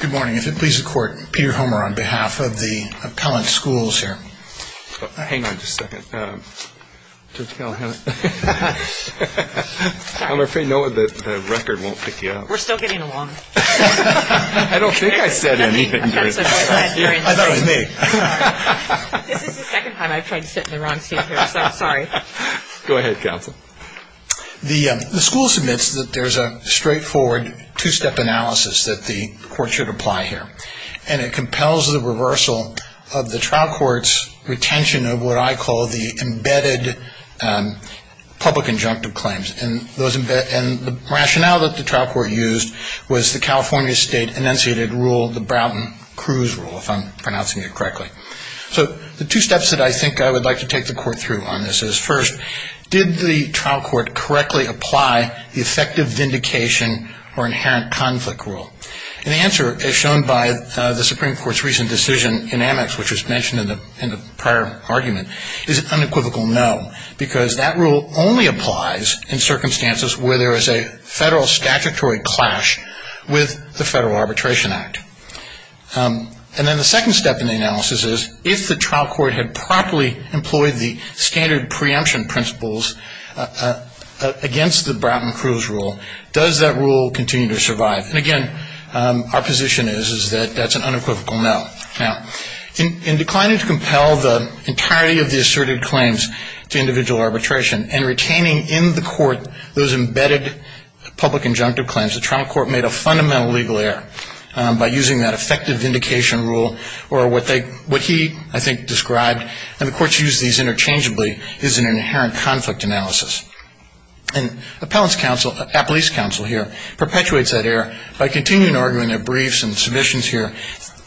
Good morning. If it pleases the Court, Peter Homer on behalf of the Appellant Schools here. Hang on just a second. Judge Callahan. I'm afraid, Noah, that the record won't pick you up. We're still getting along. I don't think I said anything. I thought it was me. This is the second time I've tried to sit in the wrong seat here, so I'm sorry. Go ahead, Counsel. The school submits that there's a straightforward two-step analysis that the Court should apply here, and it compels the reversal of the trial court's retention of what I call the embedded public injunctive claims. And the rationale that the trial court used was the California State enunciated rule, the Broughton-Crews rule, if I'm pronouncing it correctly. So the two steps that I think I would like to take the Court through on this is, first, did the trial court correctly apply the effective vindication or inherent conflict rule? And the answer, as shown by the Supreme Court's recent decision in Amex, which was mentioned in the prior argument, is an unequivocal no, because that rule only applies in circumstances where there is a federal statutory clash with the Federal Arbitration Act. And then the second step in the analysis is, if the trial court had properly employed the standard preemption principles against the Broughton-Crews rule, does that rule continue to survive? And, again, our position is that that's an unequivocal no. Now, in declining to compel the entirety of the asserted claims to individual arbitration and retaining in the Court those embedded public injunctive claims, the trial court made a fundamental legal error by using that effective vindication rule, or what he, I think, described, and the Courts use these interchangeably, is an inherent conflict analysis. And Appellate's counsel here perpetuates that error by continuing to argue in their briefs and submissions here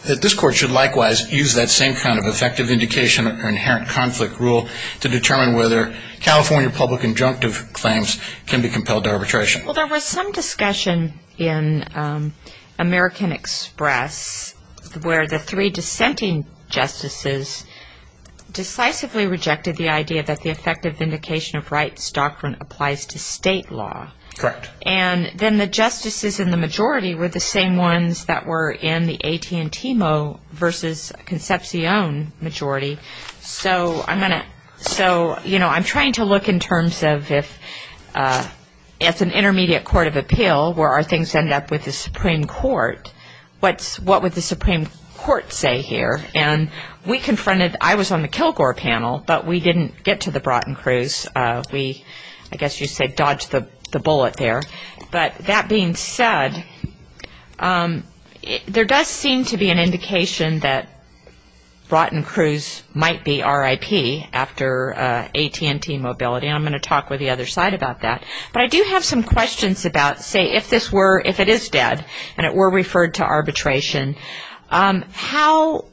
that this Court should likewise use that same kind of effective vindication or inherent conflict rule to determine whether California public injunctive claims can be compelled to arbitration. Well, there was some discussion in American Express where the three dissenting justices decisively rejected the idea that the effective vindication of rights doctrine applies to state law. Correct. And then the justices in the majority were the same ones that were in the AT&Tmo versus Concepcion majority. So I'm going to so, you know, I'm trying to look in terms of if it's an intermediate court of appeal where our things end up with the Supreme Court, what would the Supreme Court say here? And we confronted, I was on the Kilgore panel, but we didn't get to the Broughton-Crews. We, I guess you'd say, dodged the bullet there. But that being said, there does seem to be an indication that Broughton-Crews might be RIP after AT&Tmobility, and I'm going to talk with the other side about that. But I do have some questions about, say, if this were, if it is dead and it were referred to arbitration, how,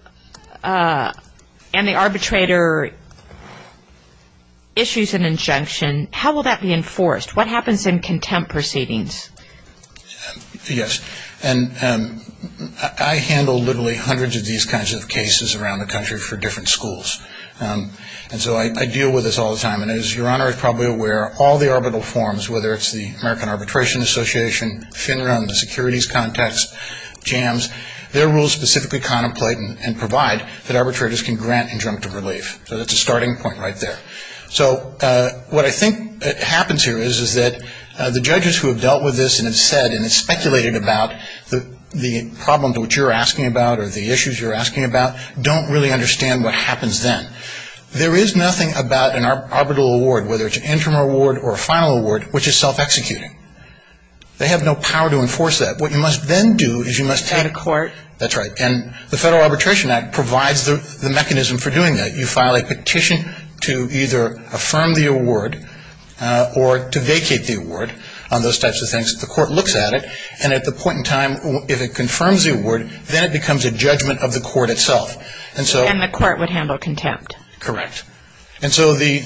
and the arbitrator issues an injunction, how will that be enforced? What happens in contempt proceedings? Yes. And I handle literally hundreds of these kinds of cases around the country for different schools. And so I deal with this all the time. And as Your Honor is probably aware, all the arbitral forms, whether it's the American Arbitration Association, FINRA, the Securities Contacts, JAMS, their rules specifically contemplate and provide that arbitrators can grant injunctive relief. So that's a starting point right there. So what I think happens here is that the judges who have dealt with this and have said and speculated about the problem to which you're asking about or the issues you're asking about don't really understand what happens then. There is nothing about an arbitral award, whether it's an interim award or a final award, which is self-executing. They have no power to enforce that. What you must then do is you must take… Add a court. That's right. And the Federal Arbitration Act provides the mechanism for doing that. You file a petition to either affirm the award or to vacate the award on those types of things. The court looks at it. And at the point in time if it confirms the award, then it becomes a judgment of the court itself. And the court would handle contempt. Correct. And so the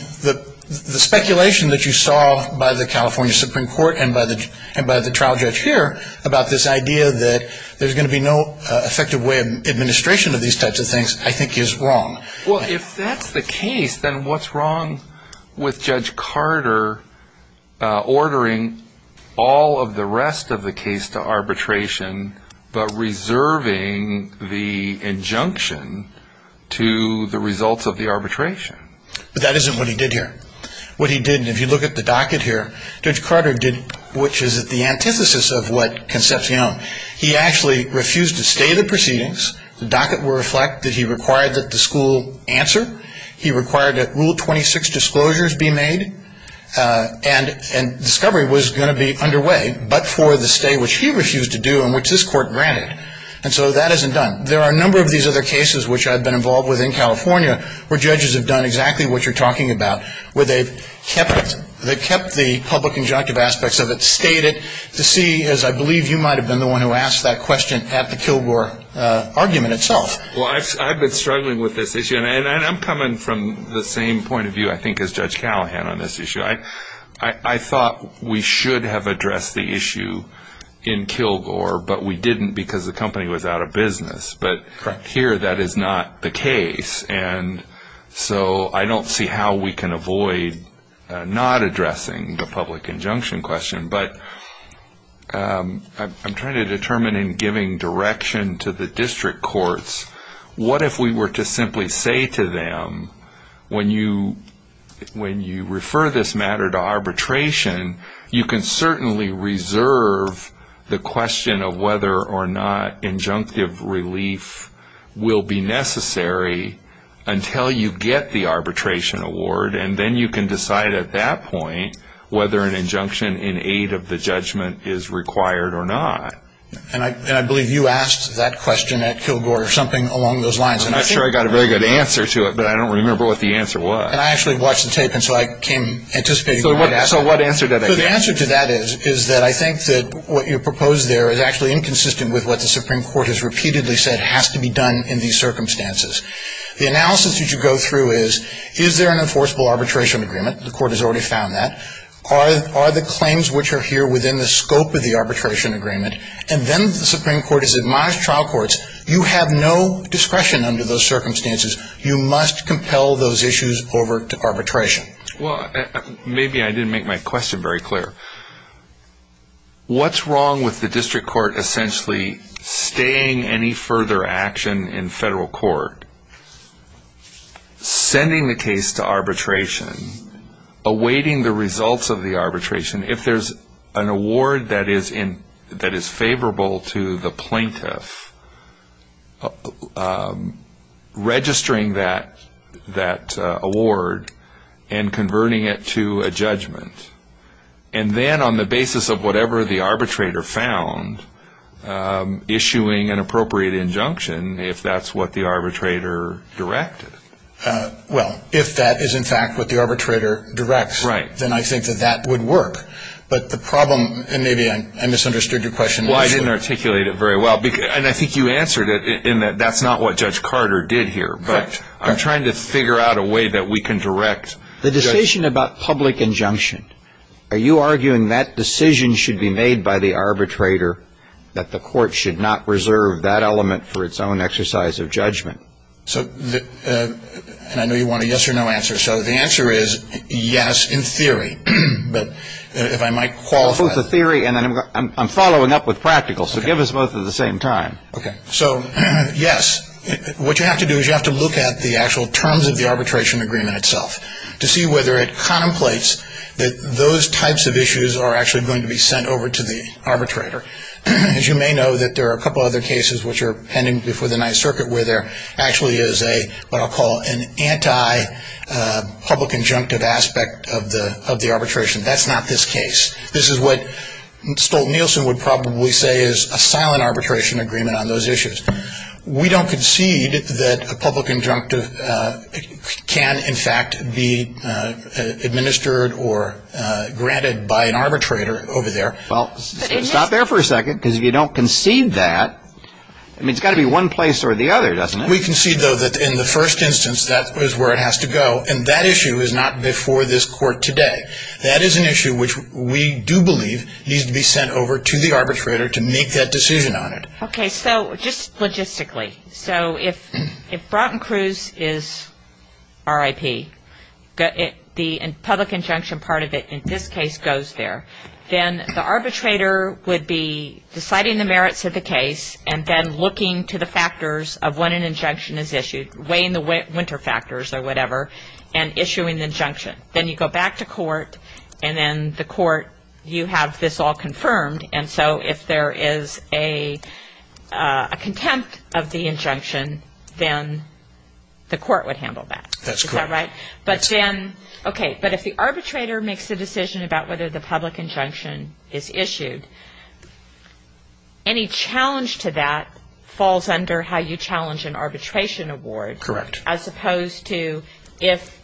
speculation that you saw by the California Supreme Court and by the trial judge here about this idea that there's going to be no effective way of administration of these types of things I think is wrong. Well, if that's the case, then what's wrong with Judge Carter ordering all of the rest of the case to arbitration but reserving the injunction to the results of the arbitration? But that isn't what he did here. What he did, and if you look at the docket here, Judge Carter did, which is the antithesis of what Concepcion… He actually refused to stay the proceedings. The docket will reflect that he required that the school answer. He required that Rule 26 disclosures be made. And discovery was going to be underway but for the stay, which he refused to do and which this court granted. And so that isn't done. There are a number of these other cases which I've been involved with in California where judges have done exactly what you're talking about, where they've kept the public injunctive aspects of it, to see, as I believe you might have been the one who asked that question at the Kilgore argument itself. Well, I've been struggling with this issue. And I'm coming from the same point of view I think as Judge Callahan on this issue. I thought we should have addressed the issue in Kilgore, but we didn't because the company was out of business. But here that is not the case. And so I don't see how we can avoid not addressing the public injunction question. But I'm trying to determine in giving direction to the district courts, what if we were to simply say to them, when you refer this matter to arbitration, you can certainly reserve the question of whether or not injunctive relief will be necessary until you get the arbitration award. And then you can decide at that point whether an injunction in aid of the judgment is required or not. And I believe you asked that question at Kilgore or something along those lines. I'm not sure I got a very good answer to it, but I don't remember what the answer was. And I actually watched the tape, and so I came anticipating the right answer. So what answer did I get? So the answer to that is that I think that what you proposed there is actually inconsistent with what the Supreme Court has repeatedly said has to be done in these circumstances. The analysis that you go through is, is there an enforceable arbitration agreement? The court has already found that. Are the claims which are here within the scope of the arbitration agreement? And then the Supreme Court has admonished trial courts, you have no discretion under those circumstances. You must compel those issues over to arbitration. Well, maybe I didn't make my question very clear. What's wrong with the district court essentially staying any further action in federal court, sending the case to arbitration, awaiting the results of the arbitration, if there's an award that is favorable to the plaintiff, registering that award and converting it to a judgment, and then on the basis of whatever the arbitrator found, issuing an appropriate injunction, if that's what the arbitrator directed. Well, if that is in fact what the arbitrator directs, then I think that that would work. But the problem, and maybe I misunderstood your question. Well, I didn't articulate it very well. And I think you answered it in that that's not what Judge Carter did here. Correct. But I'm trying to figure out a way that we can direct. The decision about public injunction, are you arguing that decision should be made by the arbitrator, that the court should not reserve that element for its own exercise of judgment? So, and I know you want a yes or no answer. So the answer is yes in theory. But if I might qualify. Both the theory and then I'm following up with practical. So give us both at the same time. Okay. So, yes. What you have to do is you have to look at the actual terms of the arbitration agreement itself to see whether it contemplates that those types of issues are actually going to be sent over to the arbitrator. As you may know, that there are a couple other cases which are pending before the Ninth Circuit where there actually is a, what I'll call an anti-public injunctive aspect of the arbitration. That's not this case. This is what Stolt-Nielsen would probably say is a silent arbitration agreement on those issues. We don't concede that a public injunctive can, in fact, be administered or granted by an arbitrator over there. Well, stop there for a second because if you don't concede that, I mean, it's got to be one place or the other, doesn't it? We concede, though, that in the first instance that is where it has to go. And that issue is not before this court today. That is an issue which we do believe needs to be sent over to the arbitrator to make that decision on it. Okay. So just logistically. So if Broughton-Cruz is RIP, the public injunction part of it in this case goes there. Then the arbitrator would be deciding the merits of the case and then looking to the factors of when an injunction is issued, weighing the winter factors or whatever, and issuing the injunction. Then you go back to court, and then the court, you have this all confirmed. And so if there is a contempt of the injunction, then the court would handle that. That's correct. Is that right? Okay. But if the arbitrator makes a decision about whether the public injunction is issued, any challenge to that falls under how you challenge an arbitration award. Correct. As opposed to if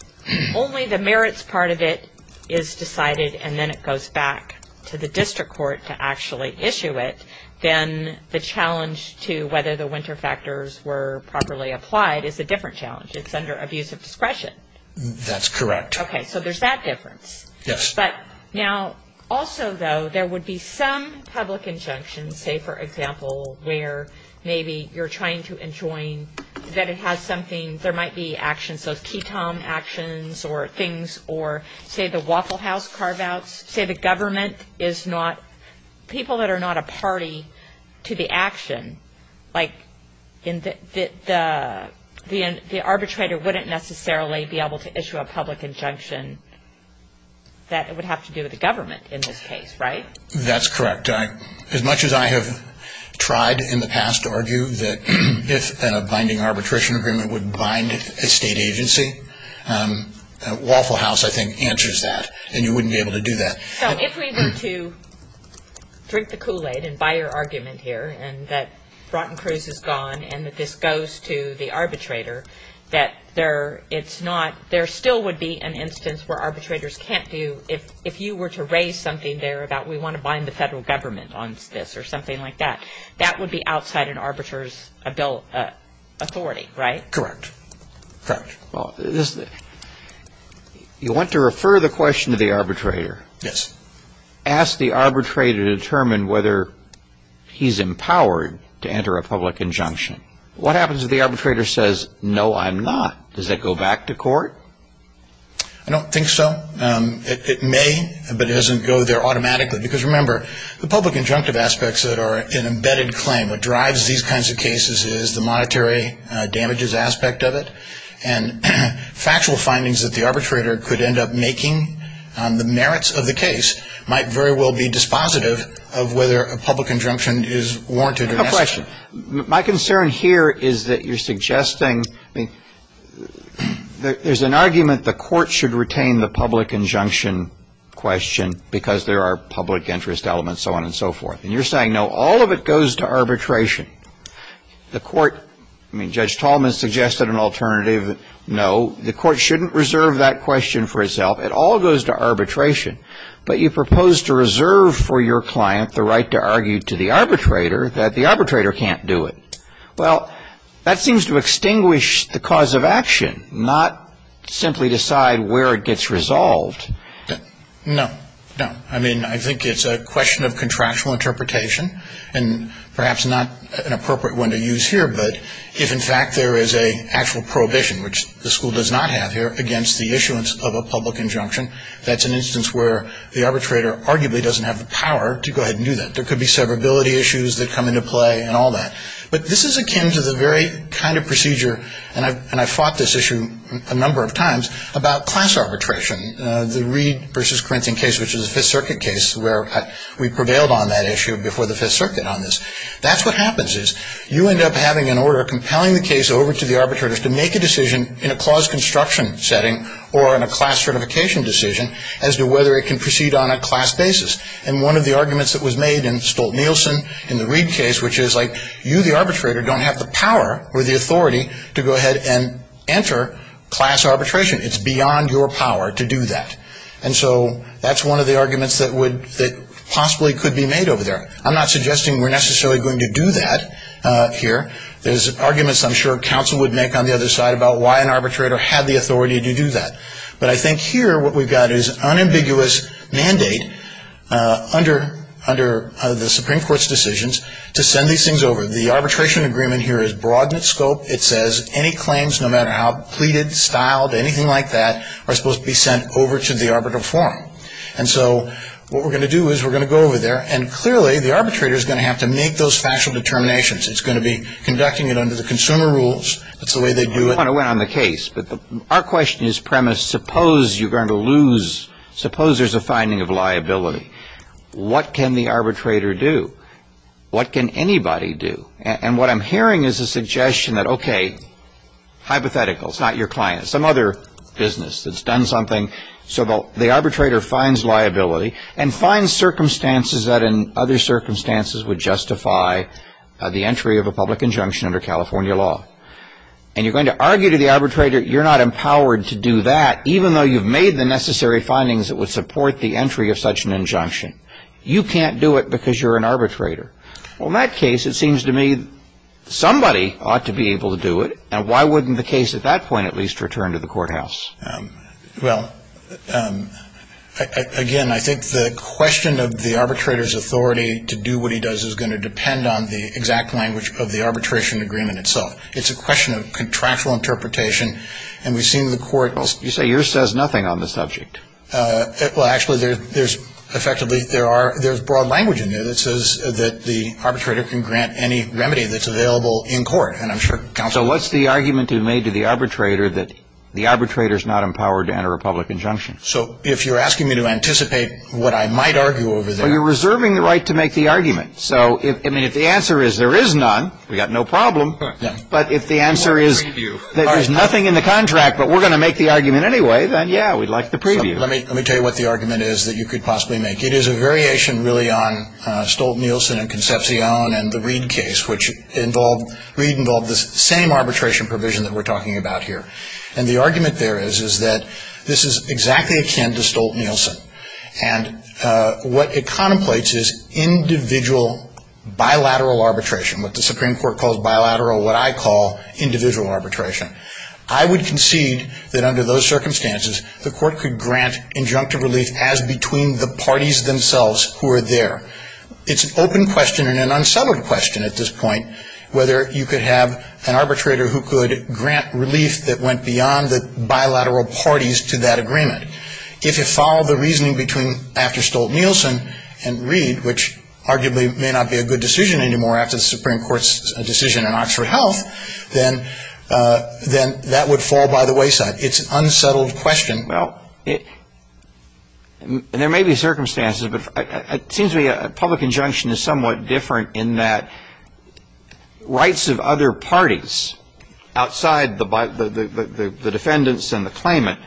only the merits part of it is decided and then it goes back to the district court to actually issue it, then the challenge to whether the winter factors were properly applied is a different challenge. It's under abuse of discretion. That's correct. Okay. So there's that difference. Yes. But now also, though, there would be some public injunction, say, for example, where maybe you're trying to enjoin that it has something, there might be actions, so ketone actions or things or, say, the Waffle House carve-outs. Say the government is not, people that are not a party to the action, like the arbitrator wouldn't necessarily be able to issue a public injunction. That would have to do with the government in this case, right? That's correct. As much as I have tried in the past to argue that if a binding arbitration agreement would bind a state agency, Waffle House, I think, answers that, and you wouldn't be able to do that. So if we were to drink the Kool-Aid and buy your argument here and that Broughton-Cruz is gone and that this goes to the arbitrator, that it's not, there still would be an instance where arbitrators can't do, if you were to raise something there about we want to bind the federal government on this or something like that, that would be outside an arbitrator's authority, right? Correct. Correct. Well, you want to refer the question to the arbitrator. Yes. Ask the arbitrator to determine whether he's empowered to enter a public injunction. What happens if the arbitrator says, no, I'm not? Does that go back to court? I don't think so. It may, but it doesn't go there automatically. Because, remember, the public injunctive aspects that are an embedded claim, what drives these kinds of cases is the monetary damages aspect of it, and factual findings that the arbitrator could end up making on the merits of the case might very well be dispositive of whether a public injunction is warranted or not. I have a question. My concern here is that you're suggesting, I mean, there's an argument the court should retain the public injunction question because there are public interest elements, so on and so forth. And you're saying, no, all of it goes to arbitration. The court, I mean, Judge Tallman suggested an alternative, no, the court shouldn't reserve that question for itself. It all goes to arbitration. But you propose to reserve for your client the right to argue to the arbitrator that the arbitrator can't do it. Well, that seems to extinguish the cause of action, not simply decide where it gets resolved. No, no. I mean, I think it's a question of contractual interpretation, and perhaps not an appropriate one to use here. But if, in fact, there is an actual prohibition, which the school does not have here against the issuance of a public injunction, that's an instance where the arbitrator arguably doesn't have the power to go ahead and do that. There could be severability issues that come into play and all that. But this is akin to the very kind of procedure, and I've fought this issue a number of times, about class arbitration, the Reed v. Corinthian case, which is a Fifth Circuit case, where we prevailed on that issue before the Fifth Circuit on this. That's what happens is you end up having an order compelling the case over to the arbitrator to make a decision in a clause construction setting or in a class certification decision as to whether it can proceed on a class basis. And one of the arguments that was made in Stolt-Nielsen in the Reed case, which is like you, the arbitrator, don't have the power or the authority to go ahead and enter class arbitration. It's beyond your power to do that. And so that's one of the arguments that possibly could be made over there. I'm not suggesting we're necessarily going to do that here. There's arguments I'm sure counsel would make on the other side about why an arbitrator had the authority to do that. But I think here what we've got is unambiguous mandate under the Supreme Court's decisions to send these things over. The arbitration agreement here is broad in its scope. It says any claims, no matter how pleaded, styled, anything like that, are supposed to be sent over to the arbitral forum. And so what we're going to do is we're going to go over there, and clearly the arbitrator is going to have to make those factual determinations. It's going to be conducting it under the consumer rules. That's the way they do it. I want to win on the case, but our question is premise. Suppose you're going to lose. Suppose there's a finding of liability. What can the arbitrator do? What can anybody do? And what I'm hearing is a suggestion that, okay, hypothetical. It's not your client. It's some other business that's done something. So the arbitrator finds liability and finds circumstances that in other circumstances would justify the entry of a public injunction under California law. And you're going to argue to the arbitrator you're not empowered to do that, even though you've made the necessary findings that would support the entry of such an injunction. You can't do it because you're an arbitrator. Well, in that case, it seems to me somebody ought to be able to do it, and why wouldn't the case at that point at least return to the courthouse? Well, again, I think the question of the arbitrator's authority to do what he does is going to depend on the exact language of the arbitration agreement itself. It's a question of contractual interpretation, and we've seen the court. Well, you say yours says nothing on the subject. Well, actually, there's effectively there are – there's broad language in there that says that the arbitrator can grant any remedy that's available in court, and I'm sure counsel – So what's the argument you made to the arbitrator that the arbitrator's not empowered to enter a public injunction? So if you're asking me to anticipate what I might argue over there – Well, you're reserving the right to make the argument. So, I mean, if the answer is there is none, we've got no problem, but if the answer is that there's nothing in the contract but we're going to make the argument anyway, then, yeah, we'd like the preview. Let me tell you what the argument is that you could possibly make. It is a variation, really, on Stolt-Nielsen and Concepcion and the Reed case, which involved – Reed involved the same arbitration provision that we're talking about here, and the argument there is that this is exactly akin to Stolt-Nielsen, and what it contemplates is individual bilateral arbitration, what the Supreme Court calls bilateral, what I call individual arbitration. I would concede that under those circumstances the court could grant injunctive relief as between the parties themselves who are there. It's an open question and an unsettled question at this point whether you could have an arbitrator who could grant relief that went beyond the bilateral parties to that agreement. If you follow the reasoning between – after Stolt-Nielsen and Reed, which arguably may not be a good decision anymore after the Supreme Court's decision in Oxford Health, then that would fall by the wayside. It's an unsettled question. Well, there may be circumstances, but it seems to me a public injunction is somewhat different in that rights of other parties outside the defendants and the claimant,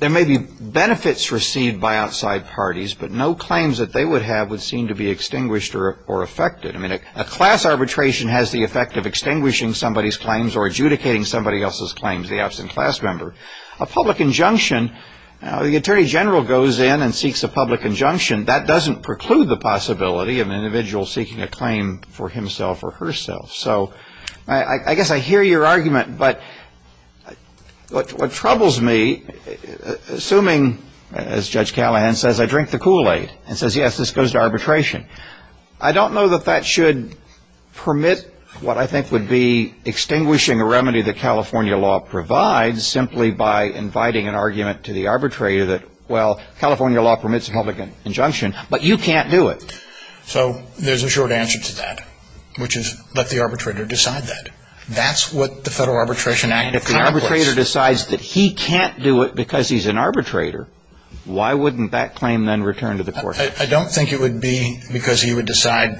there may be benefits received by outside parties, but no claims that they would have would seem to be extinguished or affected. I mean, a class arbitration has the effect of extinguishing somebody's claims or adjudicating somebody else's claims, the absent class member. A public injunction, the attorney general goes in and seeks a public injunction. That doesn't preclude the possibility of an individual seeking a claim for himself or herself. So I guess I hear your argument, but what troubles me, assuming, as Judge Callahan says, I drink the Kool-Aid and says, yes, this goes to arbitration, I don't know that that should permit what I think would be extinguishing a remedy that California law provides simply by inviting an argument to the arbitrator that, well, California law permits a public injunction, but you can't do it. So there's a short answer to that, which is let the arbitrator decide that. That's what the Federal Arbitration Act accomplishes. And if the arbitrator decides that he can't do it because he's an arbitrator, why wouldn't that claim then return to the court? I don't think it would be because he would decide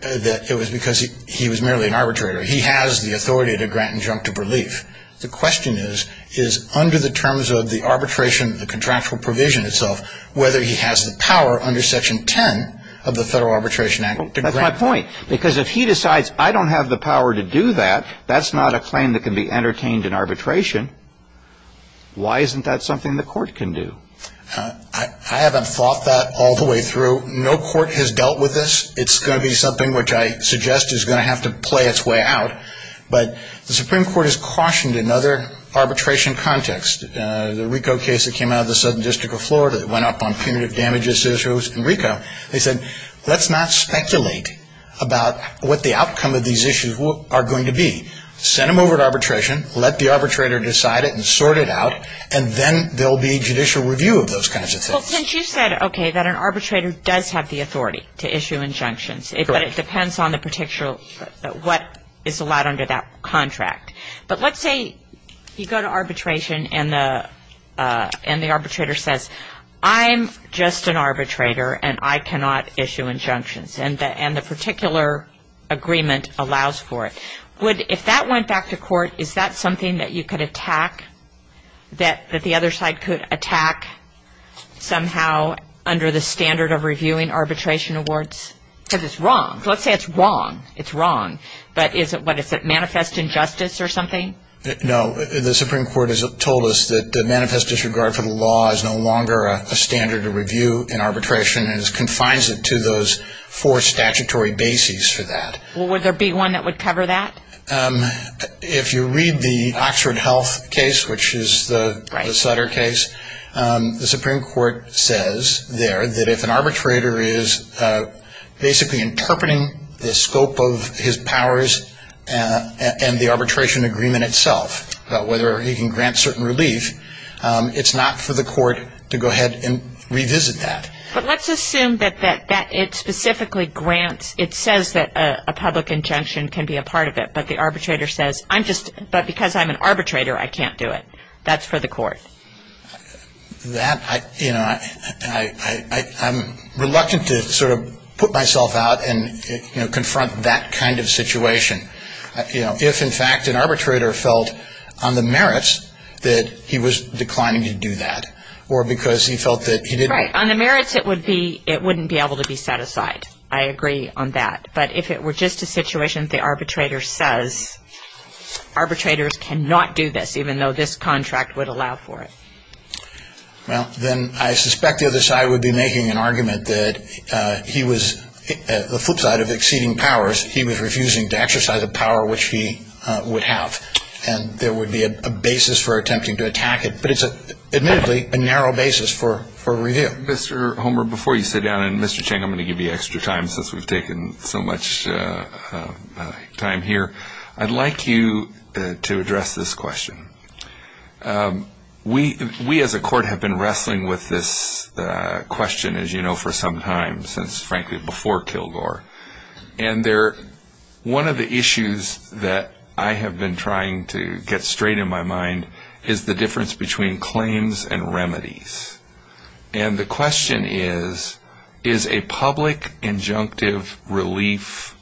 that it was because he was merely an arbitrator. He has the authority to grant injunctive relief. The question is, is under the terms of the arbitration, the contractual provision itself, whether he has the power under Section 10 of the Federal Arbitration Act to grant. That's my point, because if he decides I don't have the power to do that, that's not a claim that can be entertained in arbitration. Why isn't that something the court can do? I haven't thought that all the way through. No court has dealt with this. It's going to be something which I suggest is going to have to play its way out. But the Supreme Court has cautioned another arbitration context, the RICO case that came out of the Southern District of Florida that went up on punitive damages issues in RICO. They said, let's not speculate about what the outcome of these issues are going to be. Send them over to arbitration, let the arbitrator decide it and sort it out, and then there will be judicial review of those kinds of things. Well, since you said, okay, that an arbitrator does have the authority to issue injunctions, but it depends on what is allowed under that contract. But let's say you go to arbitration and the arbitrator says, I'm just an arbitrator and I cannot issue injunctions, and the particular agreement allows for it. If that went back to court, is that something that you could attack, that the other side could attack somehow under the standard of reviewing arbitration awards? Because it's wrong. Let's say it's wrong. It's wrong. But is it what? Is it manifest injustice or something? No. The Supreme Court has told us that the manifest disregard for the law is no longer a standard of review in arbitration and it confines it to those four statutory bases for that. Would there be one that would cover that? If you read the Oxford Health case, which is the Sutter case, the Supreme Court says there that if an arbitrator is basically interpreting the scope of his powers and the arbitration agreement itself, whether he can grant certain relief, it's not for the court to go ahead and revisit that. But let's assume that it specifically grants, it says that a public injunction can be a part of it, but the arbitrator says I'm just, but because I'm an arbitrator, I can't do it. That's for the court. That, you know, I'm reluctant to sort of put myself out and, you know, confront that kind of situation. You know, if in fact an arbitrator felt on the merits that he was declining to do that or because he felt that he didn't. Right, on the merits it would be, it wouldn't be able to be set aside. I agree on that. But if it were just a situation the arbitrator says arbitrators cannot do this, even though this contract would allow for it. Well, then I suspect the other side would be making an argument that he was, the flip side of exceeding powers, he was refusing to exercise a power which he would have. And there would be a basis for attempting to attack it. But it's admittedly a narrow basis for review. Mr. Homer, before you sit down, and Mr. Chang I'm going to give you extra time since we've taken so much time here. I'd like you to address this question. We as a court have been wrestling with this question, as you know, for some time, since frankly before Kilgore. And one of the issues that I have been trying to get straight in my mind is the difference between claims and remedies. And the question is, is a public injunctive relief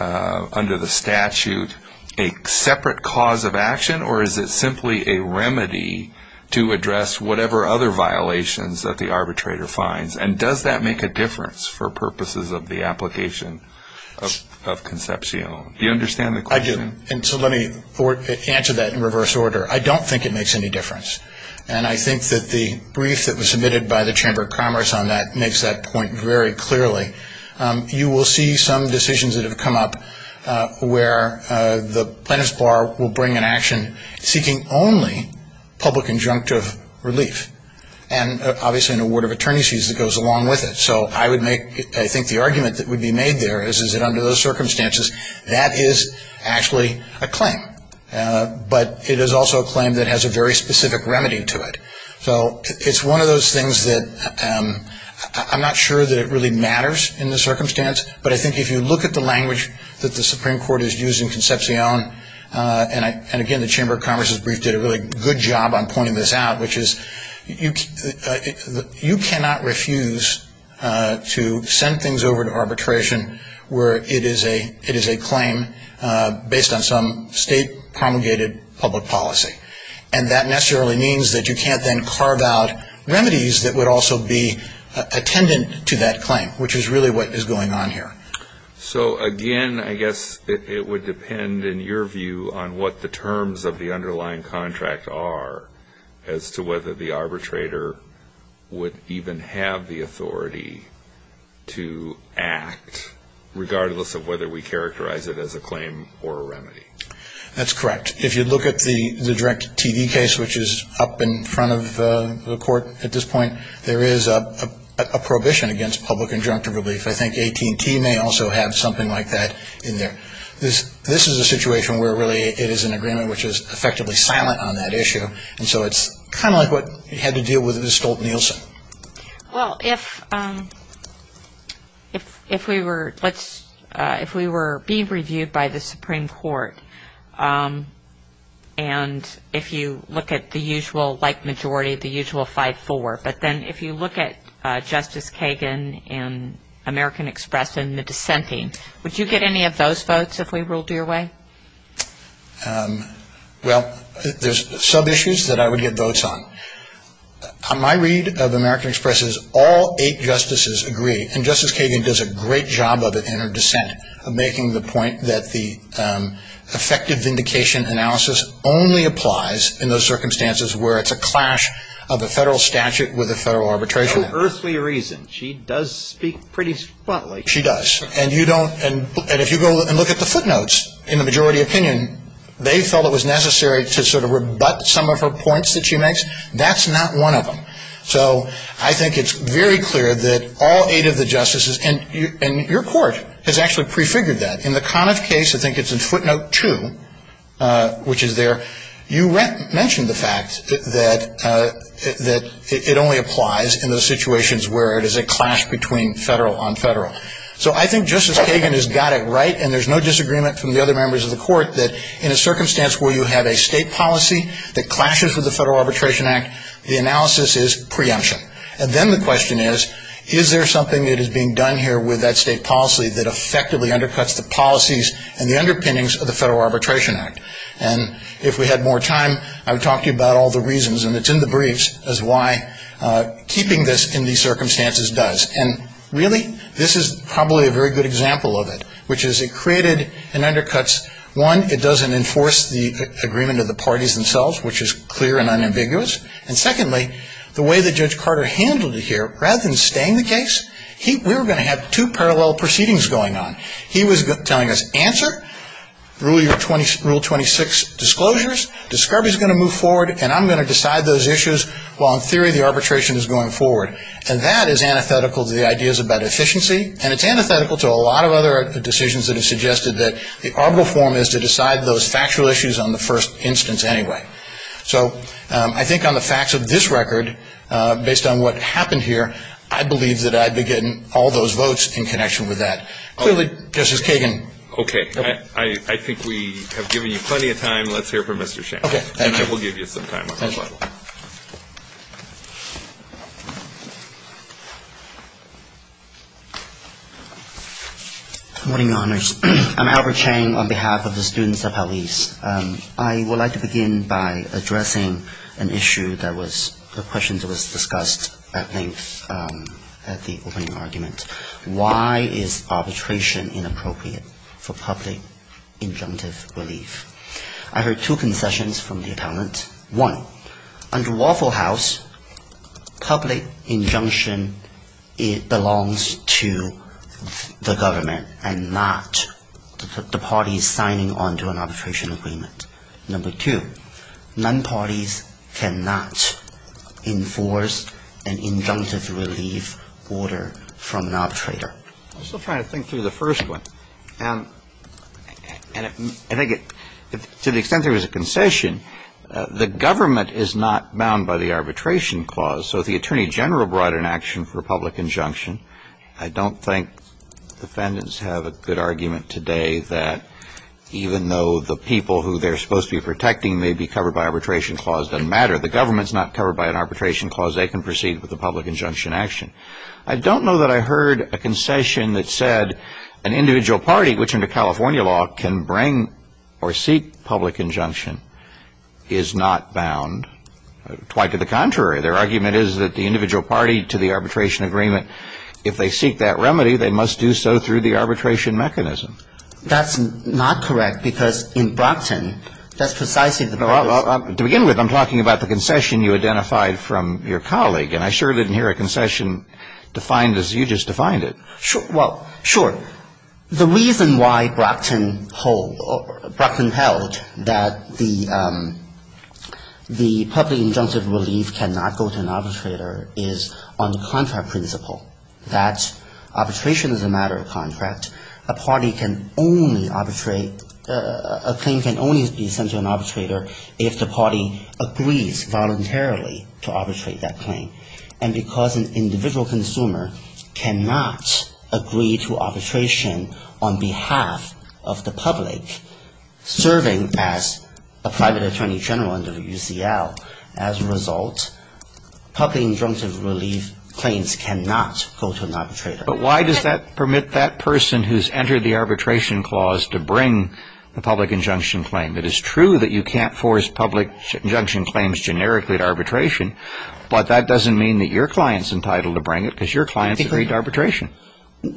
under the statute a separate cause of action or is it simply a remedy to address whatever other violations that the arbitrator finds? And does that make a difference for purposes of the application of Concepcion? Do you understand the question? I do. And so let me answer that in reverse order. I don't think it makes any difference. And I think that the brief that was submitted by the Chamber of Commerce on that makes that point very clearly. You will see some decisions that have come up where the plaintiff's bar will bring an action seeking only public injunctive relief, and obviously an award of attorney's fees that goes along with it. So I would make, I think the argument that would be made there is, is that under those circumstances, that is actually a claim. But it is also a claim that has a very specific remedy to it. So it's one of those things that I'm not sure that it really matters in the circumstance, but I think if you look at the language that the Supreme Court is using, Concepcion, and again the Chamber of Commerce's brief did a really good job on pointing this out, which is you cannot refuse to send things over to arbitration where it is a claim based on some state promulgated public policy. And that necessarily means that you can't then carve out remedies that would also be attendant to that claim, which is really what is going on here. So again, I guess it would depend in your view on what the terms of the underlying contract are as to whether the arbitrator would even have the authority to act, regardless of whether we characterize it as a claim or a remedy. That's correct. If you look at the direct TV case, which is up in front of the court at this point, there is a prohibition against public injunctive relief. I think AT&T may also have something like that in there. This is a situation where really it is an agreement which is effectively silent on that issue, and so it's kind of like what you had to deal with with Stolt-Nielsen. Well, if we were being reviewed by the Supreme Court, and if you look at the usual like majority, the usual 5-4, but then if you look at Justice Kagan and American Express and the dissenting, would you get any of those votes if we ruled your way? Well, there's sub-issues that I would get votes on. On my read of American Express's, all eight justices agree, and Justice Kagan does a great job of it in her dissent, making the point that the effective vindication analysis only applies in those circumstances where it's a clash of a federal statute with a federal arbitration. For earthly reasons. She does speak pretty spotlessly. She does. And if you go and look at the footnotes in the majority opinion, they felt it was necessary to sort of rebut some of her points that she makes. That's not one of them. So I think it's very clear that all eight of the justices, and your court has actually prefigured that. In the Conniff case, I think it's in footnote two, which is there, you mentioned the fact that it only applies in those situations where it is a clash between federal on federal. So I think Justice Kagan has got it right, and there's no disagreement from the other members of the court that in a circumstance where you have a state policy that clashes with the Federal Arbitration Act, the analysis is preemption. And then the question is, is there something that is being done here with that state policy that effectively undercuts the policies and the underpinnings of the Federal Arbitration Act? And if we had more time, I would talk to you about all the reasons, and it's in the briefs as why keeping this in these circumstances does. And really, this is probably a very good example of it, which is it created and undercuts, one, it doesn't enforce the agreement of the parties themselves, which is clear and unambiguous. And secondly, the way that Judge Carter handled it here, rather than staying the case, we were going to have two parallel proceedings going on. He was telling us, answer, rule 26 disclosures, discovery is going to move forward, and I'm going to decide those issues while in theory the arbitration is going forward. And that is antithetical to the ideas about efficiency, and it's antithetical to a lot of other decisions that have suggested that the arbitral form is to decide those factual issues on the first instance anyway. So I think on the facts of this record, based on what happened here, I believe that I'd be getting all those votes in connection with that. Clearly, Justice Kagan. Okay. I think we have given you plenty of time. Let's hear from Mr. Chang. Okay. Thank you. And I will give you some time. Thank you. Good morning, Your Honors. I'm Albert Chang on behalf of the students of Hallease. I would like to begin by addressing an issue that was a question that was discussed at length at the opening argument. Why is arbitration inappropriate for public injunctive relief? I heard two concessions from the appellant. One, under Waffle House, public injunction belongs to the government and not the parties signing onto an arbitration agreement. Number two, non-parties cannot enforce an injunctive relief order from an arbitrator. I'm still trying to think through the first one. And I think to the extent there is a concession, the government is not bound by the arbitration clause. So if the Attorney General brought an action for public injunction, I don't think defendants have a good argument today that even though the people who they're supposed to be protecting may be covered by arbitration clause, it doesn't matter. The government is not covered by an arbitration clause. They can proceed with a public injunction action. I don't know that I heard a concession that said an individual party, which under California law can bring or seek public injunction, is not bound. Quite to the contrary. Their argument is that the individual party to the arbitration agreement, if they seek that remedy, they must do so through the arbitration mechanism. That's not correct because in Brockton, that's precisely the purpose. To begin with, I'm talking about the concession you identified from your colleague. And I sure didn't hear a concession defined as you just defined it. Well, sure. The reason why Brockton held that the public injunctive relief cannot go to an arbitrator is on the contract principle. That arbitration is a matter of contract. A party can only arbitrate, a claim can only be sent to an arbitrator if the party agrees voluntarily to arbitrate that claim. And because an individual consumer cannot agree to arbitration on behalf of the public serving as a private attorney general under UCL, as a result, public injunctive relief claims cannot go to an arbitrator. But why does that permit that person who's entered the arbitration clause to bring a public injunction claim? It is true that you can't force public injunction claims generically to arbitration, but that doesn't mean that your client's entitled to bring it because your client's agreed to arbitration.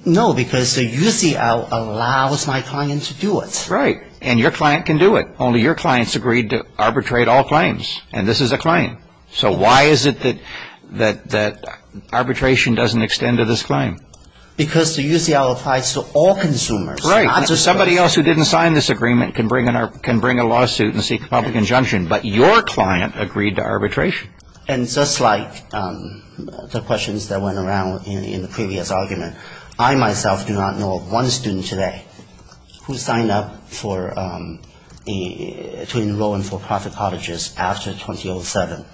No, because UCL allows my client to do it. Right, and your client can do it. Only your client's agreed to arbitrate all claims, and this is a claim. So why is it that arbitration doesn't extend to this claim? Because UCL applies to all consumers. Right, and somebody else who didn't sign this agreement can bring a lawsuit and seek a public injunction, but your client agreed to arbitration. And just like the questions that went around in the previous argument, I myself do not know of one student today who signed up to enroll in for-profit colleges after 2007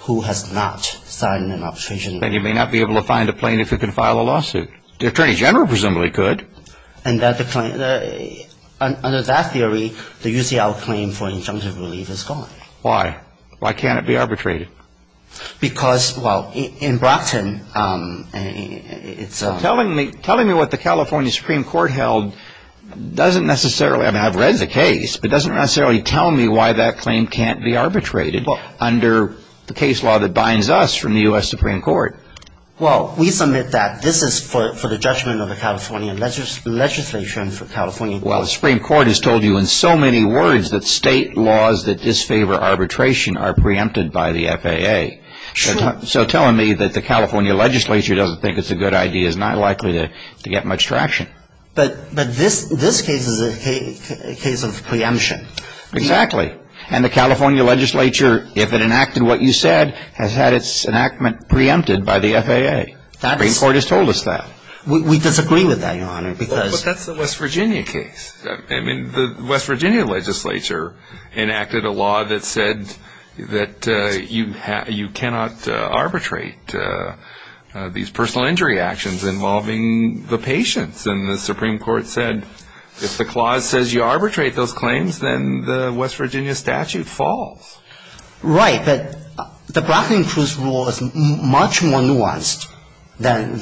who has not signed an arbitration. Then you may not be able to find a plaintiff who can file a lawsuit. The Attorney General presumably could. And under that theory, the UCL claim for injunctive relief is gone. Why? Why can't it be arbitrated? Because, well, in Brockton, it's a... Telling me what the California Supreme Court held doesn't necessarily, I mean, I've read the case, but it doesn't necessarily tell me why that claim can't be arbitrated under the case law that binds us from the U.S. Supreme Court. Well, we submit that this is for the judgment of the California legislature and for California... Well, the Supreme Court has told you in so many words that state laws that disfavor arbitration are preempted by the FAA. Sure. So telling me that the California legislature doesn't think it's a good idea is not likely to get much traction. But this case is a case of preemption. Exactly. And the California legislature, if it enacted what you said, has had its enactment preempted by the FAA. The Supreme Court has told us that. We disagree with that, Your Honor, because... But that's the West Virginia case. I mean, the West Virginia legislature enacted a law that said that you cannot arbitrate these personal injury actions involving the patients. And the Supreme Court said if the clause says you arbitrate those claims, then the West Virginia statute falls. Right. But the Brockton-Cruz rule is much more nuanced than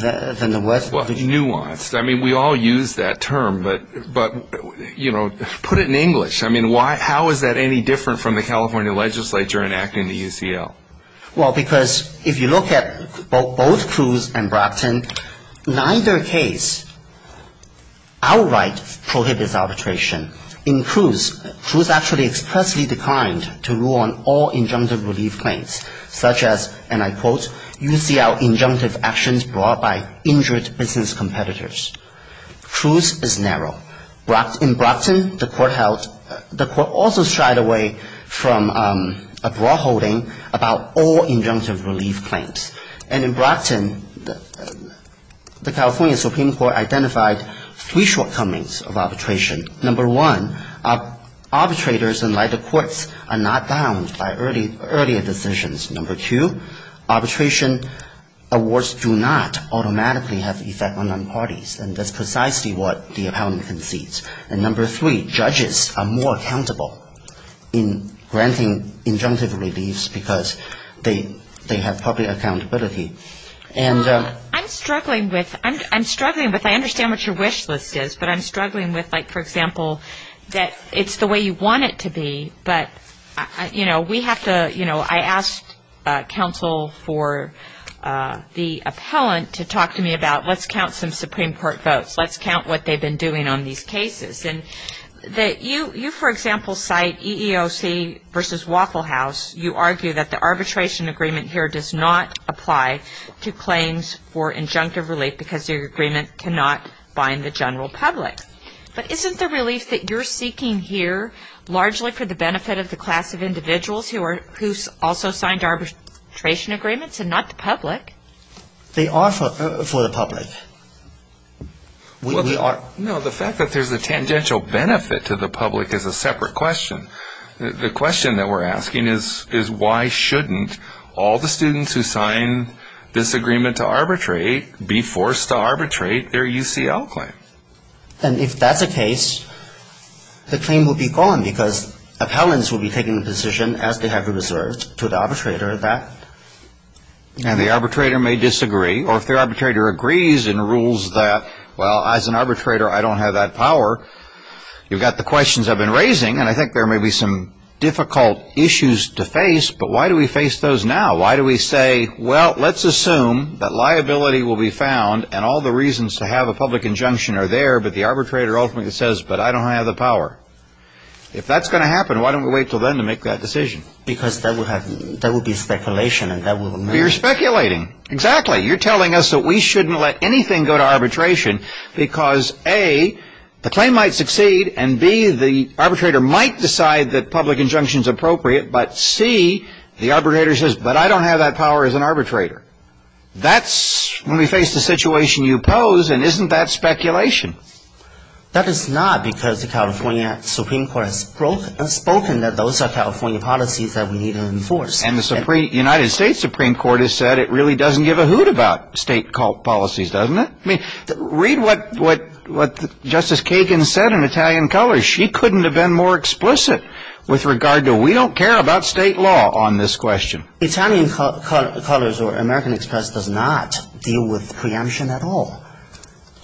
the West Virginia. Well, nuanced. I mean, we all use that term, but, you know, put it in English. I mean, how is that any different from the California legislature enacting the UCL? Well, because if you look at both Cruz and Brockton, neither case outright prohibits arbitration. In Cruz, Cruz actually expressly declined to rule on all injunctive relief claims, such as, and I quote, UCL injunctive actions brought by injured business competitors. Cruz is narrow. In Brockton, the court also shied away from a broad holding about all injunctive relief claims. And in Brockton, the California Supreme Court identified three shortcomings of arbitration. Number one, arbitrators, unlike the courts, are not bound by earlier decisions. Number two, arbitration awards do not automatically have effect on non-parties. And that's precisely what the appellant concedes. And number three, judges are more accountable in granting injunctive reliefs because they have public accountability. I'm struggling with, I understand what your wish list is, but I'm struggling with, like, for example, that it's the way you want it to be, but, you know, we have to, you know, I asked counsel for the appellant to talk to me about let's count some Supreme Court votes. Let's count what they've been doing on these cases. And you, for example, cite EEOC versus Waffle House. You argue that the arbitration agreement here does not apply to claims for injunctive relief because your agreement cannot bind the general public. But isn't the relief that you're seeking here largely for the benefit of the class of individuals who also signed arbitration agreements and not the public? They are for the public. No, the fact that there's a tangential benefit to the public is a separate question. The question that we're asking is why shouldn't all the students who signed this agreement to arbitrate be forced to arbitrate their UCL claim? And if that's the case, the claim will be gone because appellants will be taking the position as they have reserved to the arbitrator that. And the arbitrator may disagree. Or if the arbitrator agrees and rules that, well, as an arbitrator, I don't have that power, you've got the questions I've been raising, and I think there may be some difficult issues to face, but why do we face those now? Why do we say, well, let's assume that liability will be found and all the reasons to have a public injunction are there, but the arbitrator ultimately says, but I don't have the power. If that's going to happen, why don't we wait until then to make that decision? Because that would be speculation. You're speculating. Exactly. You're telling us that we shouldn't let anything go to arbitration because, A, the claim might succeed, and, B, the arbitrator might decide that public injunction is appropriate, but, C, the arbitrator says, but I don't have that power as an arbitrator. That's when we face the situation you pose, and isn't that speculation? That is not because the California Supreme Court has spoken that those are California policies that we need to enforce. And the United States Supreme Court has said it really doesn't give a hoot about state policies, doesn't it? Read what Justice Kagan said in Italian Colors. She couldn't have been more explicit with regard to we don't care about state law on this question. Italian Colors or American Express does not deal with preemption at all.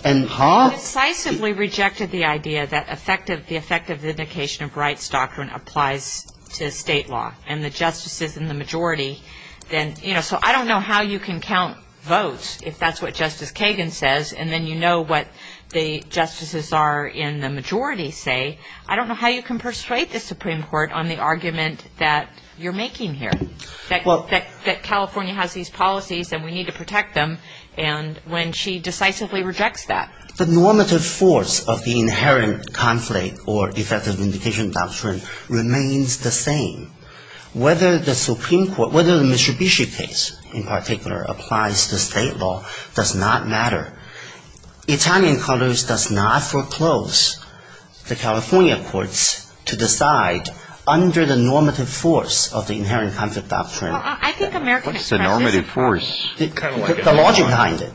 And, huh? They decisively rejected the idea that the effective vindication of rights doctrine applies to state law. And the justices in the majority then, you know, so I don't know how you can count votes if that's what Justice Kagan says, and then you know what the justices are in the majority say. I don't know how you can persuade the Supreme Court on the argument that you're making here. That California has these policies and we need to protect them, and when she decisively rejects that. The normative force of the inherent conflict or effective vindication doctrine remains the same. Whether the Supreme Court, whether the Mitsubishi case in particular applies to state law does not matter. Italian Colors does not foreclose the California courts to decide under the normative force of the inherent conflict doctrine. Well, I think American Express does. What's the normative force? The logic behind it.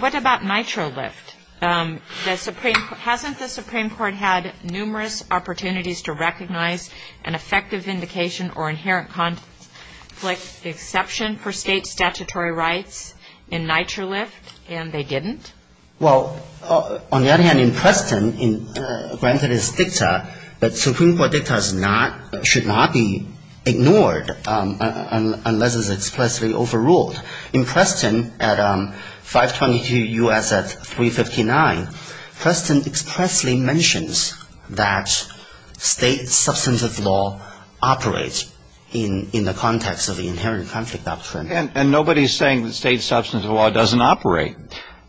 What about Nitro Lift? Hasn't the Supreme Court had numerous opportunities to recognize an effective vindication or inherent conflict exception for state statutory rights in Nitro Lift, and they didn't? Well, on the other hand, in Preston, granted it's dicta, but Supreme Court dicta should not be ignored unless it's expressly overruled. In Preston, at 522 U.S. at 359, Preston expressly mentions that state substantive law operates in the context of the inherent conflict doctrine. And nobody's saying that state substantive law doesn't operate.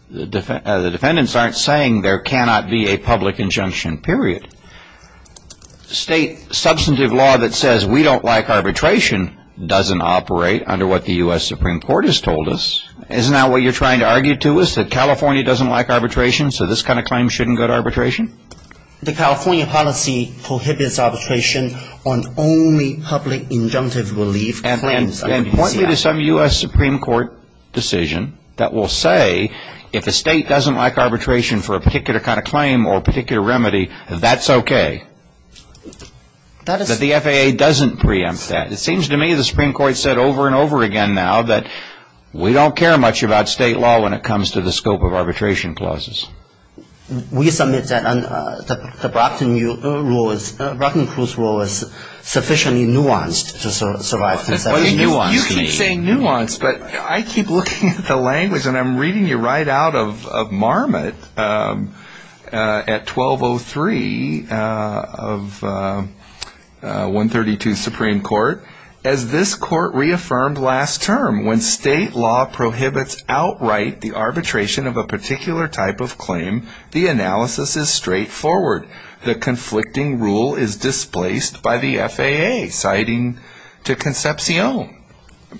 The defendants aren't saying there cannot be a public injunction, period. State substantive law that says we don't like arbitration doesn't operate under what the U.S. Supreme Court has told us. Isn't that what you're trying to argue to us, that California doesn't like arbitration, so this kind of claim shouldn't go to arbitration? The California policy prohibits arbitration on only public injunctive relief claims. And point me to some U.S. Supreme Court decision that will say if a state doesn't like arbitration for a particular kind of claim or particular remedy, that's okay. That the FAA doesn't preempt that. It seems to me the Supreme Court said over and over again now that we don't care much about state law when it comes to the scope of arbitration clauses. We submit that the Brockton rule is sufficiently nuanced to survive. You keep saying nuanced, but I keep looking at the language, and I'm reading you right out of Marmot at 1203 of 132 Supreme Court. As this court reaffirmed last term, when state law prohibits outright the arbitration of a particular type of claim, the analysis is straightforward. The conflicting rule is displaced by the FAA, citing to Concepcion.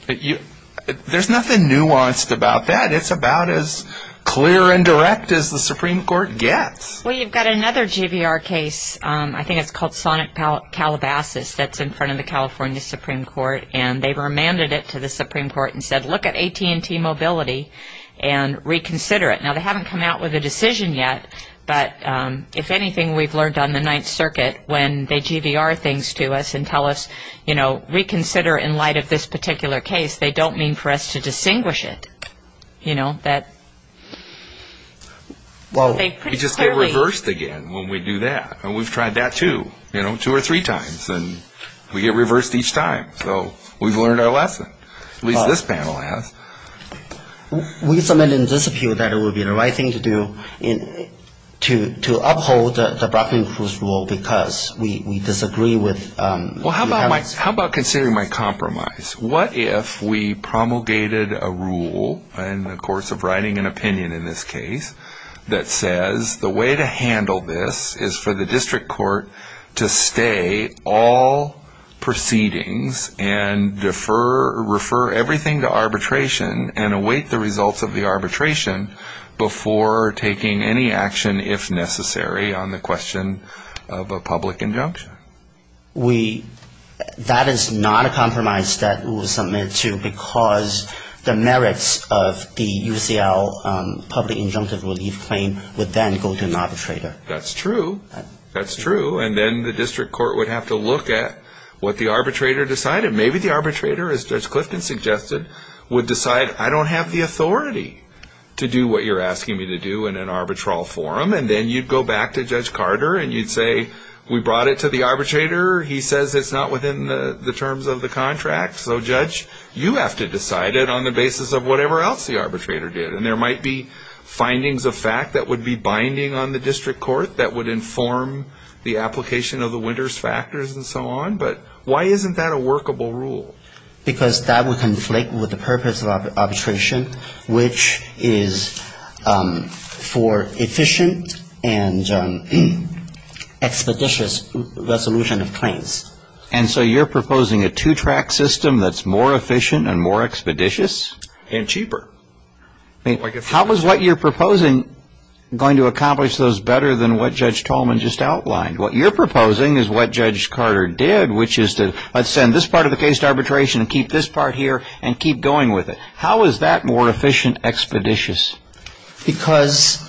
There's nothing nuanced about that. It's about as clear and direct as the Supreme Court gets. Well, you've got another GVR case, I think it's called Sonic Calabasas, that's in front of the California Supreme Court, and they remanded it to the Supreme Court and said, look at AT&T mobility and reconsider it. Now, they haven't come out with a decision yet, but if anything, we've learned on the Ninth Circuit, when they GVR things to us and tell us, you know, reconsider in light of this particular case, they don't mean for us to distinguish it. You know, that they pretty clearly... Well, we just get reversed again when we do that, and we've tried that, too, you know, two or three times, and we get reversed each time. So we've learned our lesson, at least this panel has. We submit in this appeal that it would be the right thing to do to uphold the Brockman-Cruz rule because we disagree with... Well, how about considering my compromise? What if we promulgated a rule, in the course of writing an opinion in this case, that says the way to handle this is for the district court to stay all proceedings and defer or refer everything to arbitration and await the results of the arbitration before taking any action, if necessary, on the question of a public injunction? That is not a compromise that we will submit to because the merits of the UCL public injunctive relief claim would then go to an arbitrator. That's true. That's true. And then the district court would have to look at what the arbitrator decided. Maybe the arbitrator, as Judge Clifton suggested, would decide, I don't have the authority to do what you're asking me to do in an arbitral forum, and then you'd go back to Judge Carter and you'd say, we brought it to the arbitrator, he says it's not within the terms of the contract, so, Judge, you have to decide it on the basis of whatever else the arbitrator did. And there might be findings of fact that would be binding on the district court that would inform the application of the Winters factors and so on, but why isn't that a workable rule? Because that would conflict with the purpose of arbitration, which is for efficient and expeditious resolution of claims. And so you're proposing a two-track system that's more efficient and more expeditious? And cheaper. How is what you're proposing going to accomplish those better than what Judge Tolman just outlined? What you're proposing is what Judge Carter did, which is to, let's send this part of the case to arbitration and keep this part here and keep going with it. How is that more efficient, expeditious? Because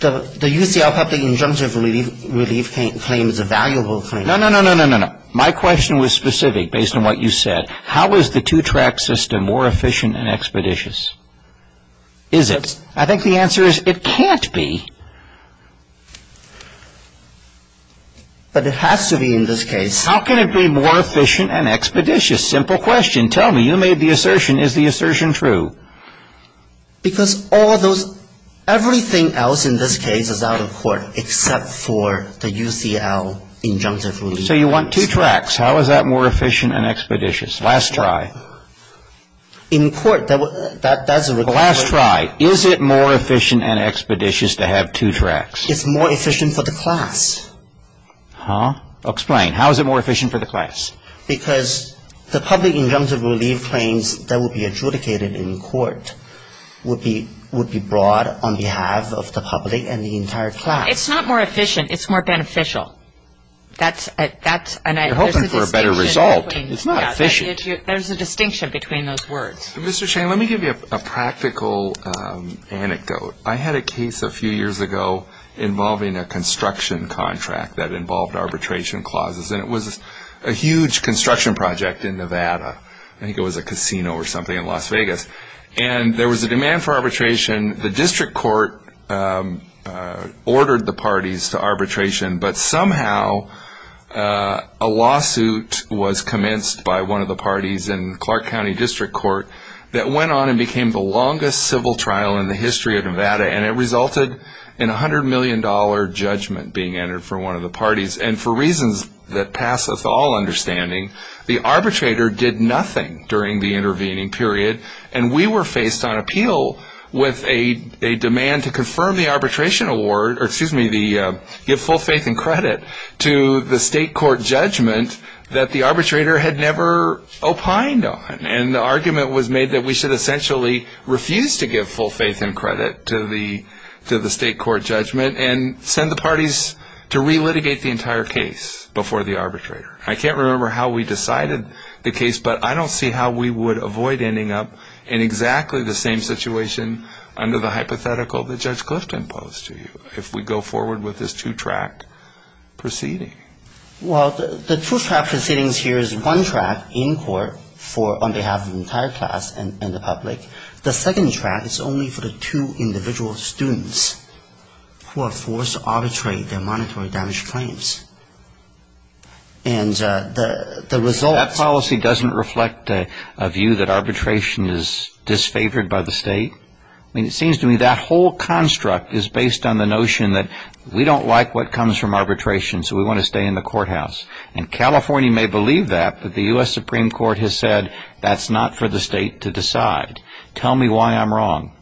the UCL public injunctive relief claim is a valuable claim. No, no, no, no, no, no, no. My question was specific, based on what you said. How is the two-track system more efficient and expeditious? Is it? I think the answer is it can't be. But it has to be in this case. How can it be more efficient and expeditious? Simple question. Tell me. You made the assertion. Is the assertion true? Because all those, everything else in this case is out of court except for the UCL injunctive relief. So you want two tracks. How is that more efficient and expeditious? Last try. In court, that's a requirement. Last try. Is it more efficient and expeditious to have two tracks? It's more efficient for the class. Huh? Explain. How is it more efficient for the class? Because the public injunctive relief claims that would be adjudicated in court would be brought on behalf of the public and the entire class. It's not more efficient. It's more beneficial. You're hoping for a better result. It's not efficient. There's a distinction between those words. Mr. Shane, let me give you a practical anecdote. I had a case a few years ago involving a construction contract that involved arbitration clauses. And it was a huge construction project in Nevada. I think it was a casino or something in Las Vegas. And there was a demand for arbitration. The district court ordered the parties to arbitration, but somehow a lawsuit was commenced by one of the parties in Clark County District Court that went on and became the longest civil trial in the history of Nevada. And it resulted in a $100 million judgment being entered for one of the parties. And for reasons that passeth all understanding, the arbitrator did nothing during the intervening period. And we were faced on appeal with a demand to confirm the arbitration award, or excuse me, give full faith and credit to the state court judgment that the arbitrator had never opined on. And the argument was made that we should essentially refuse to give full faith and credit to the state court judgment and send the parties to re-litigate the entire case before the arbitrator. I can't remember how we decided the case, but I don't see how we would avoid ending up in exactly the same situation under the hypothetical that Judge Clifton posed to you if we go forward with this two-track proceeding. Well, the two-track proceedings here is one track in court on behalf of the entire class and the public. The second track is only for the two individual students who are forced to arbitrate their monetary damage claims. And the result... That policy doesn't reflect a view that arbitration is disfavored by the state. I mean, it seems to me that whole construct is based on the notion that we don't like what comes from arbitration, so we want to stay in the courthouse. And California may believe that, but the U.S. Supreme Court has said that's not for the state to decide. Tell me why I'm wrong.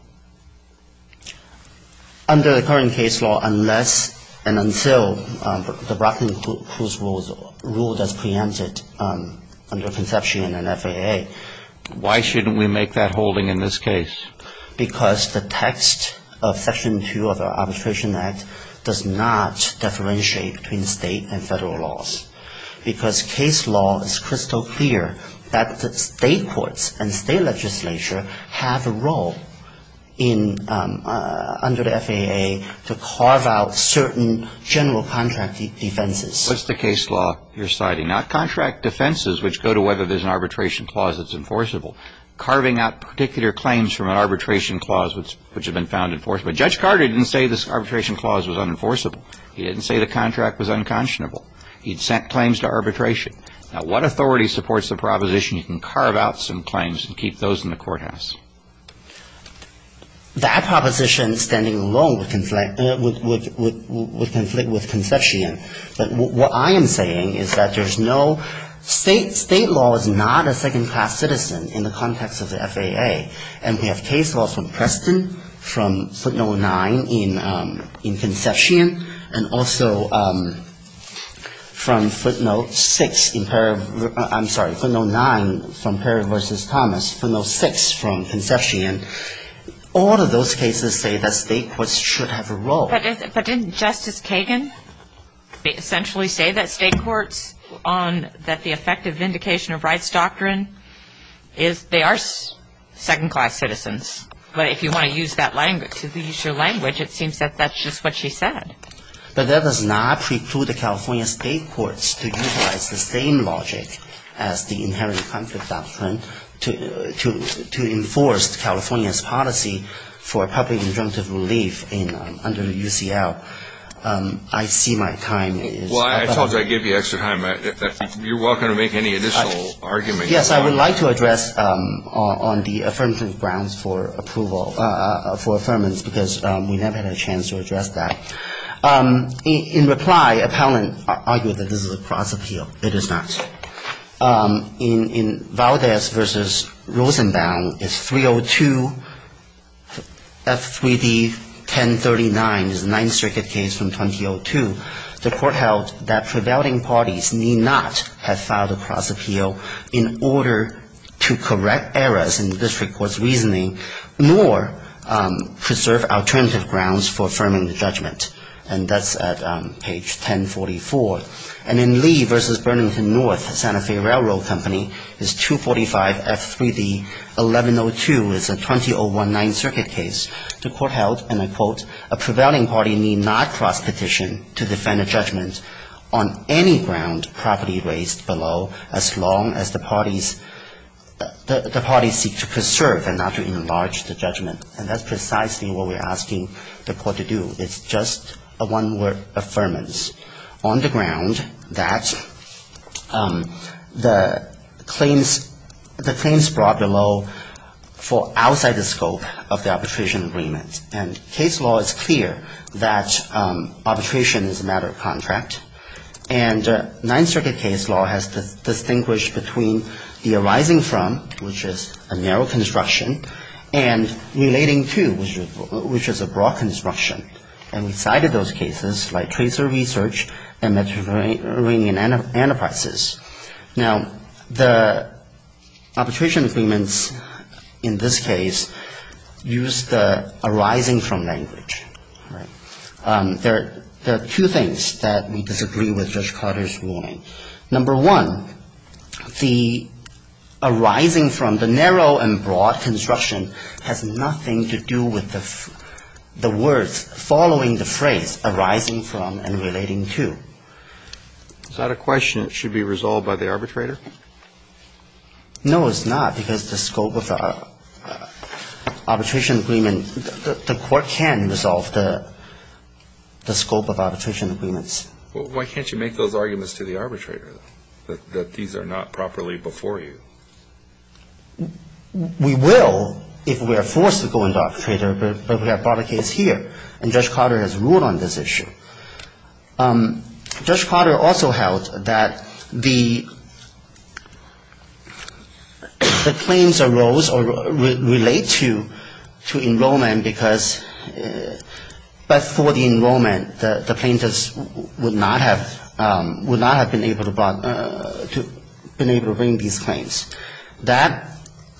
Under the current case law, unless and until the Rockland-Crews rule is preempted under Conception and FAA... Why shouldn't we make that holding in this case? Because the text of Section 2 of the Arbitration Act does not differentiate between state and federal laws. Because case law is crystal clear that the state courts and state legislature have a role under the FAA to carve out certain general contract defenses. What's the case law you're citing? Now, contract defenses, which go to whether there's an arbitration clause that's enforceable, carving out particular claims from an arbitration clause which has been found enforceable. Judge Carter didn't say this arbitration clause was unenforceable. He didn't say the contract was unconscionable. He'd sent claims to arbitration. Now, what authority supports the proposition you can carve out some claims and keep those in the courthouse? That proposition, standing alone, would conflict with Conception. But what I am saying is that there's no state law is not a second-class citizen in the context of the FAA. And we have case laws from Preston, from footnote 9 in Conception, and also from footnote 6 in Paragraph – I'm sorry, footnote 9 from Paragraph v. Thomas, footnote 6 from Conception. All of those cases say that state courts should have a role. But didn't Justice Kagan essentially say that state courts on – that the effective vindication of rights doctrine is – they are second-class citizens. But if you want to use that language, to use your language, it seems that that's just what she said. But that does not preclude the California state courts to utilize the same logic as the inherent conflict doctrine to enforce California's policy for public injunctive relief under UCL. I see my time is up. Well, I told you I'd give you extra time. You're welcome to make any additional arguments. Yes, I would like to address on the affirmative grounds for approval – for affirmance, because we never had a chance to address that. In reply, appellant argued that this is a cross appeal. It is not. In Valdez v. Rosenbaum, it's 302 F3D-1039. It's a Ninth Circuit case from 2002. The court held that prevailing parties need not have filed a cross appeal in order to correct errors in the district court's reasoning, nor preserve alternative grounds for affirming the judgment. And that's at page 1044. And in Lee v. Burnington North, Santa Fe Railroad Company, it's 245 F3D-1102. It's a 2019 circuit case. The court held, and I quote, a prevailing party need not cross petition to defend a judgment on any ground properly raised below, as long as the parties – the parties seek to preserve and not to enlarge the judgment. And that's precisely what we're asking the court to do. It's just a one-word affirmance. It's just a statement on the ground that the claims brought below fall outside the scope of the arbitration agreement. And case law is clear that arbitration is a matter of contract. And Ninth Circuit case law has distinguished between the arising from, which is a narrow construction, and relating to, which is a broad construction. And we cited those cases like Tracer Research and Mediterranean Enterprises. Now, the arbitration agreements in this case use the arising from language. There are two things that we disagree with Judge Carter's ruling. Number one, the arising from, the narrow and broad construction has nothing to do with the words following the phrase arising from and relating to. Is that a question that should be resolved by the arbitrator? No, it's not, because the scope of the arbitration agreement, the court can't resolve the scope of arbitration agreements. Well, why can't you make those arguments to the arbitrator, that these are not properly before you? We will if we are forced to go to the arbitrator, but we have brought a case here, and Judge Carter has ruled on this issue. Judge Carter also held that the claims arose or relate to enrollment because, but for the enrollment, the plaintiffs would not have been able to bring these claims. That,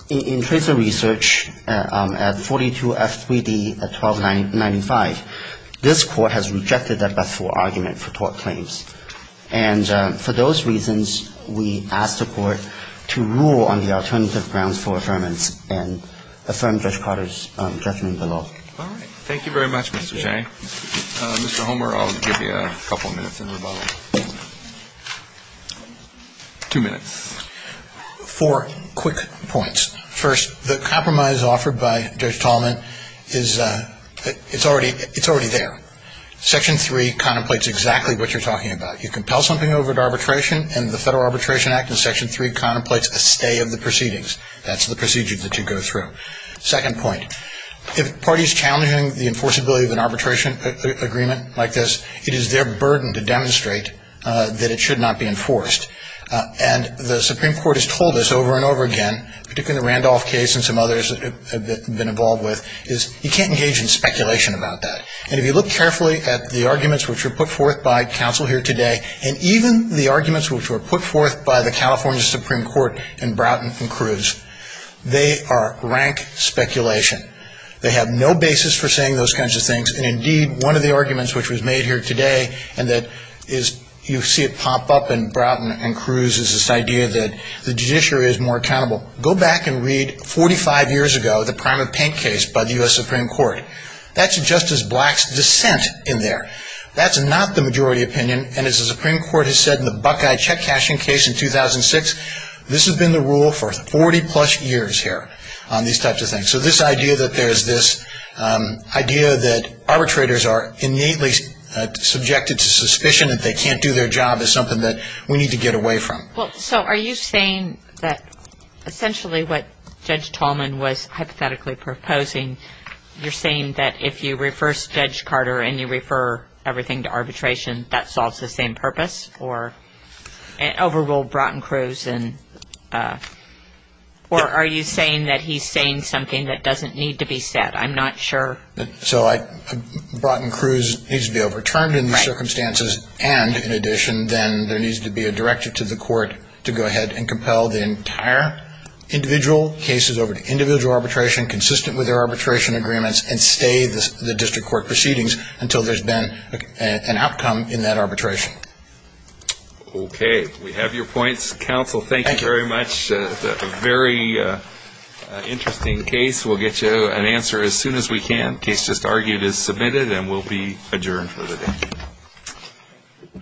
in Tracer Research, at 42F3D at 1295, this court has rejected that best for argument for tort claims. And for those reasons, we ask the court to rule on the alternative grounds for affirmance and affirm Judge Carter's judgment below. All right. Thank you very much, Mr. Chang. Mr. Homer, I'll give you a couple minutes in rebuttal. Two minutes. Four quick points. First, the compromise offered by Judge Tallman is, it's already there. Section 3 contemplates exactly what you're talking about. You compel something over to arbitration, and the Federal Arbitration Act in Section 3 contemplates a stay of the proceedings. That's the procedure that you go through. Second point, if a party is challenging the enforceability of an arbitration agreement like this, it is their burden to demonstrate that it should not be enforced. And the Supreme Court has told us over and over again, particularly the Randolph case and some others that we've been involved with, is you can't engage in speculation about that. And if you look carefully at the arguments which were put forth by counsel here today, and even the arguments which were put forth by the California Supreme Court in Broughton and Cruz, they are rank speculation. They have no basis for saying those kinds of things. And indeed, one of the arguments which was made here today, and that is you see it pop up in Broughton and Cruz, is this idea that the judiciary is more accountable. Go back and read 45 years ago, the Primer-Pink case by the U.S. Supreme Court. That's Justice Black's dissent in there. That's not the majority opinion. And as the Supreme Court has said in the Buckeye check cashing case in 2006, this has been the rule for 40-plus years here on these types of things. So this idea that there is this idea that arbitrators are innately subjected to suspicion that they can't do their job is something that we need to get away from. Well, so are you saying that essentially what Judge Tallman was hypothetically proposing, you're saying that if you reverse Judge Carter and you refer everything to arbitration, that solves the same purpose? Or overrule Broughton and Cruz? Or are you saying that he's saying something that doesn't need to be said? I'm not sure. So Broughton and Cruz needs to be overturned in the circumstances, and in addition then there needs to be a directive to the court to go ahead and compel the entire individual cases over to individual arbitration, consistent with their arbitration agreements, and stay the district court proceedings until there's been an outcome in that arbitration. Okay. We have your points. Counsel, thank you very much. A very interesting case. We'll get you an answer as soon as we can. The case just argued is submitted and will be adjourned for the day.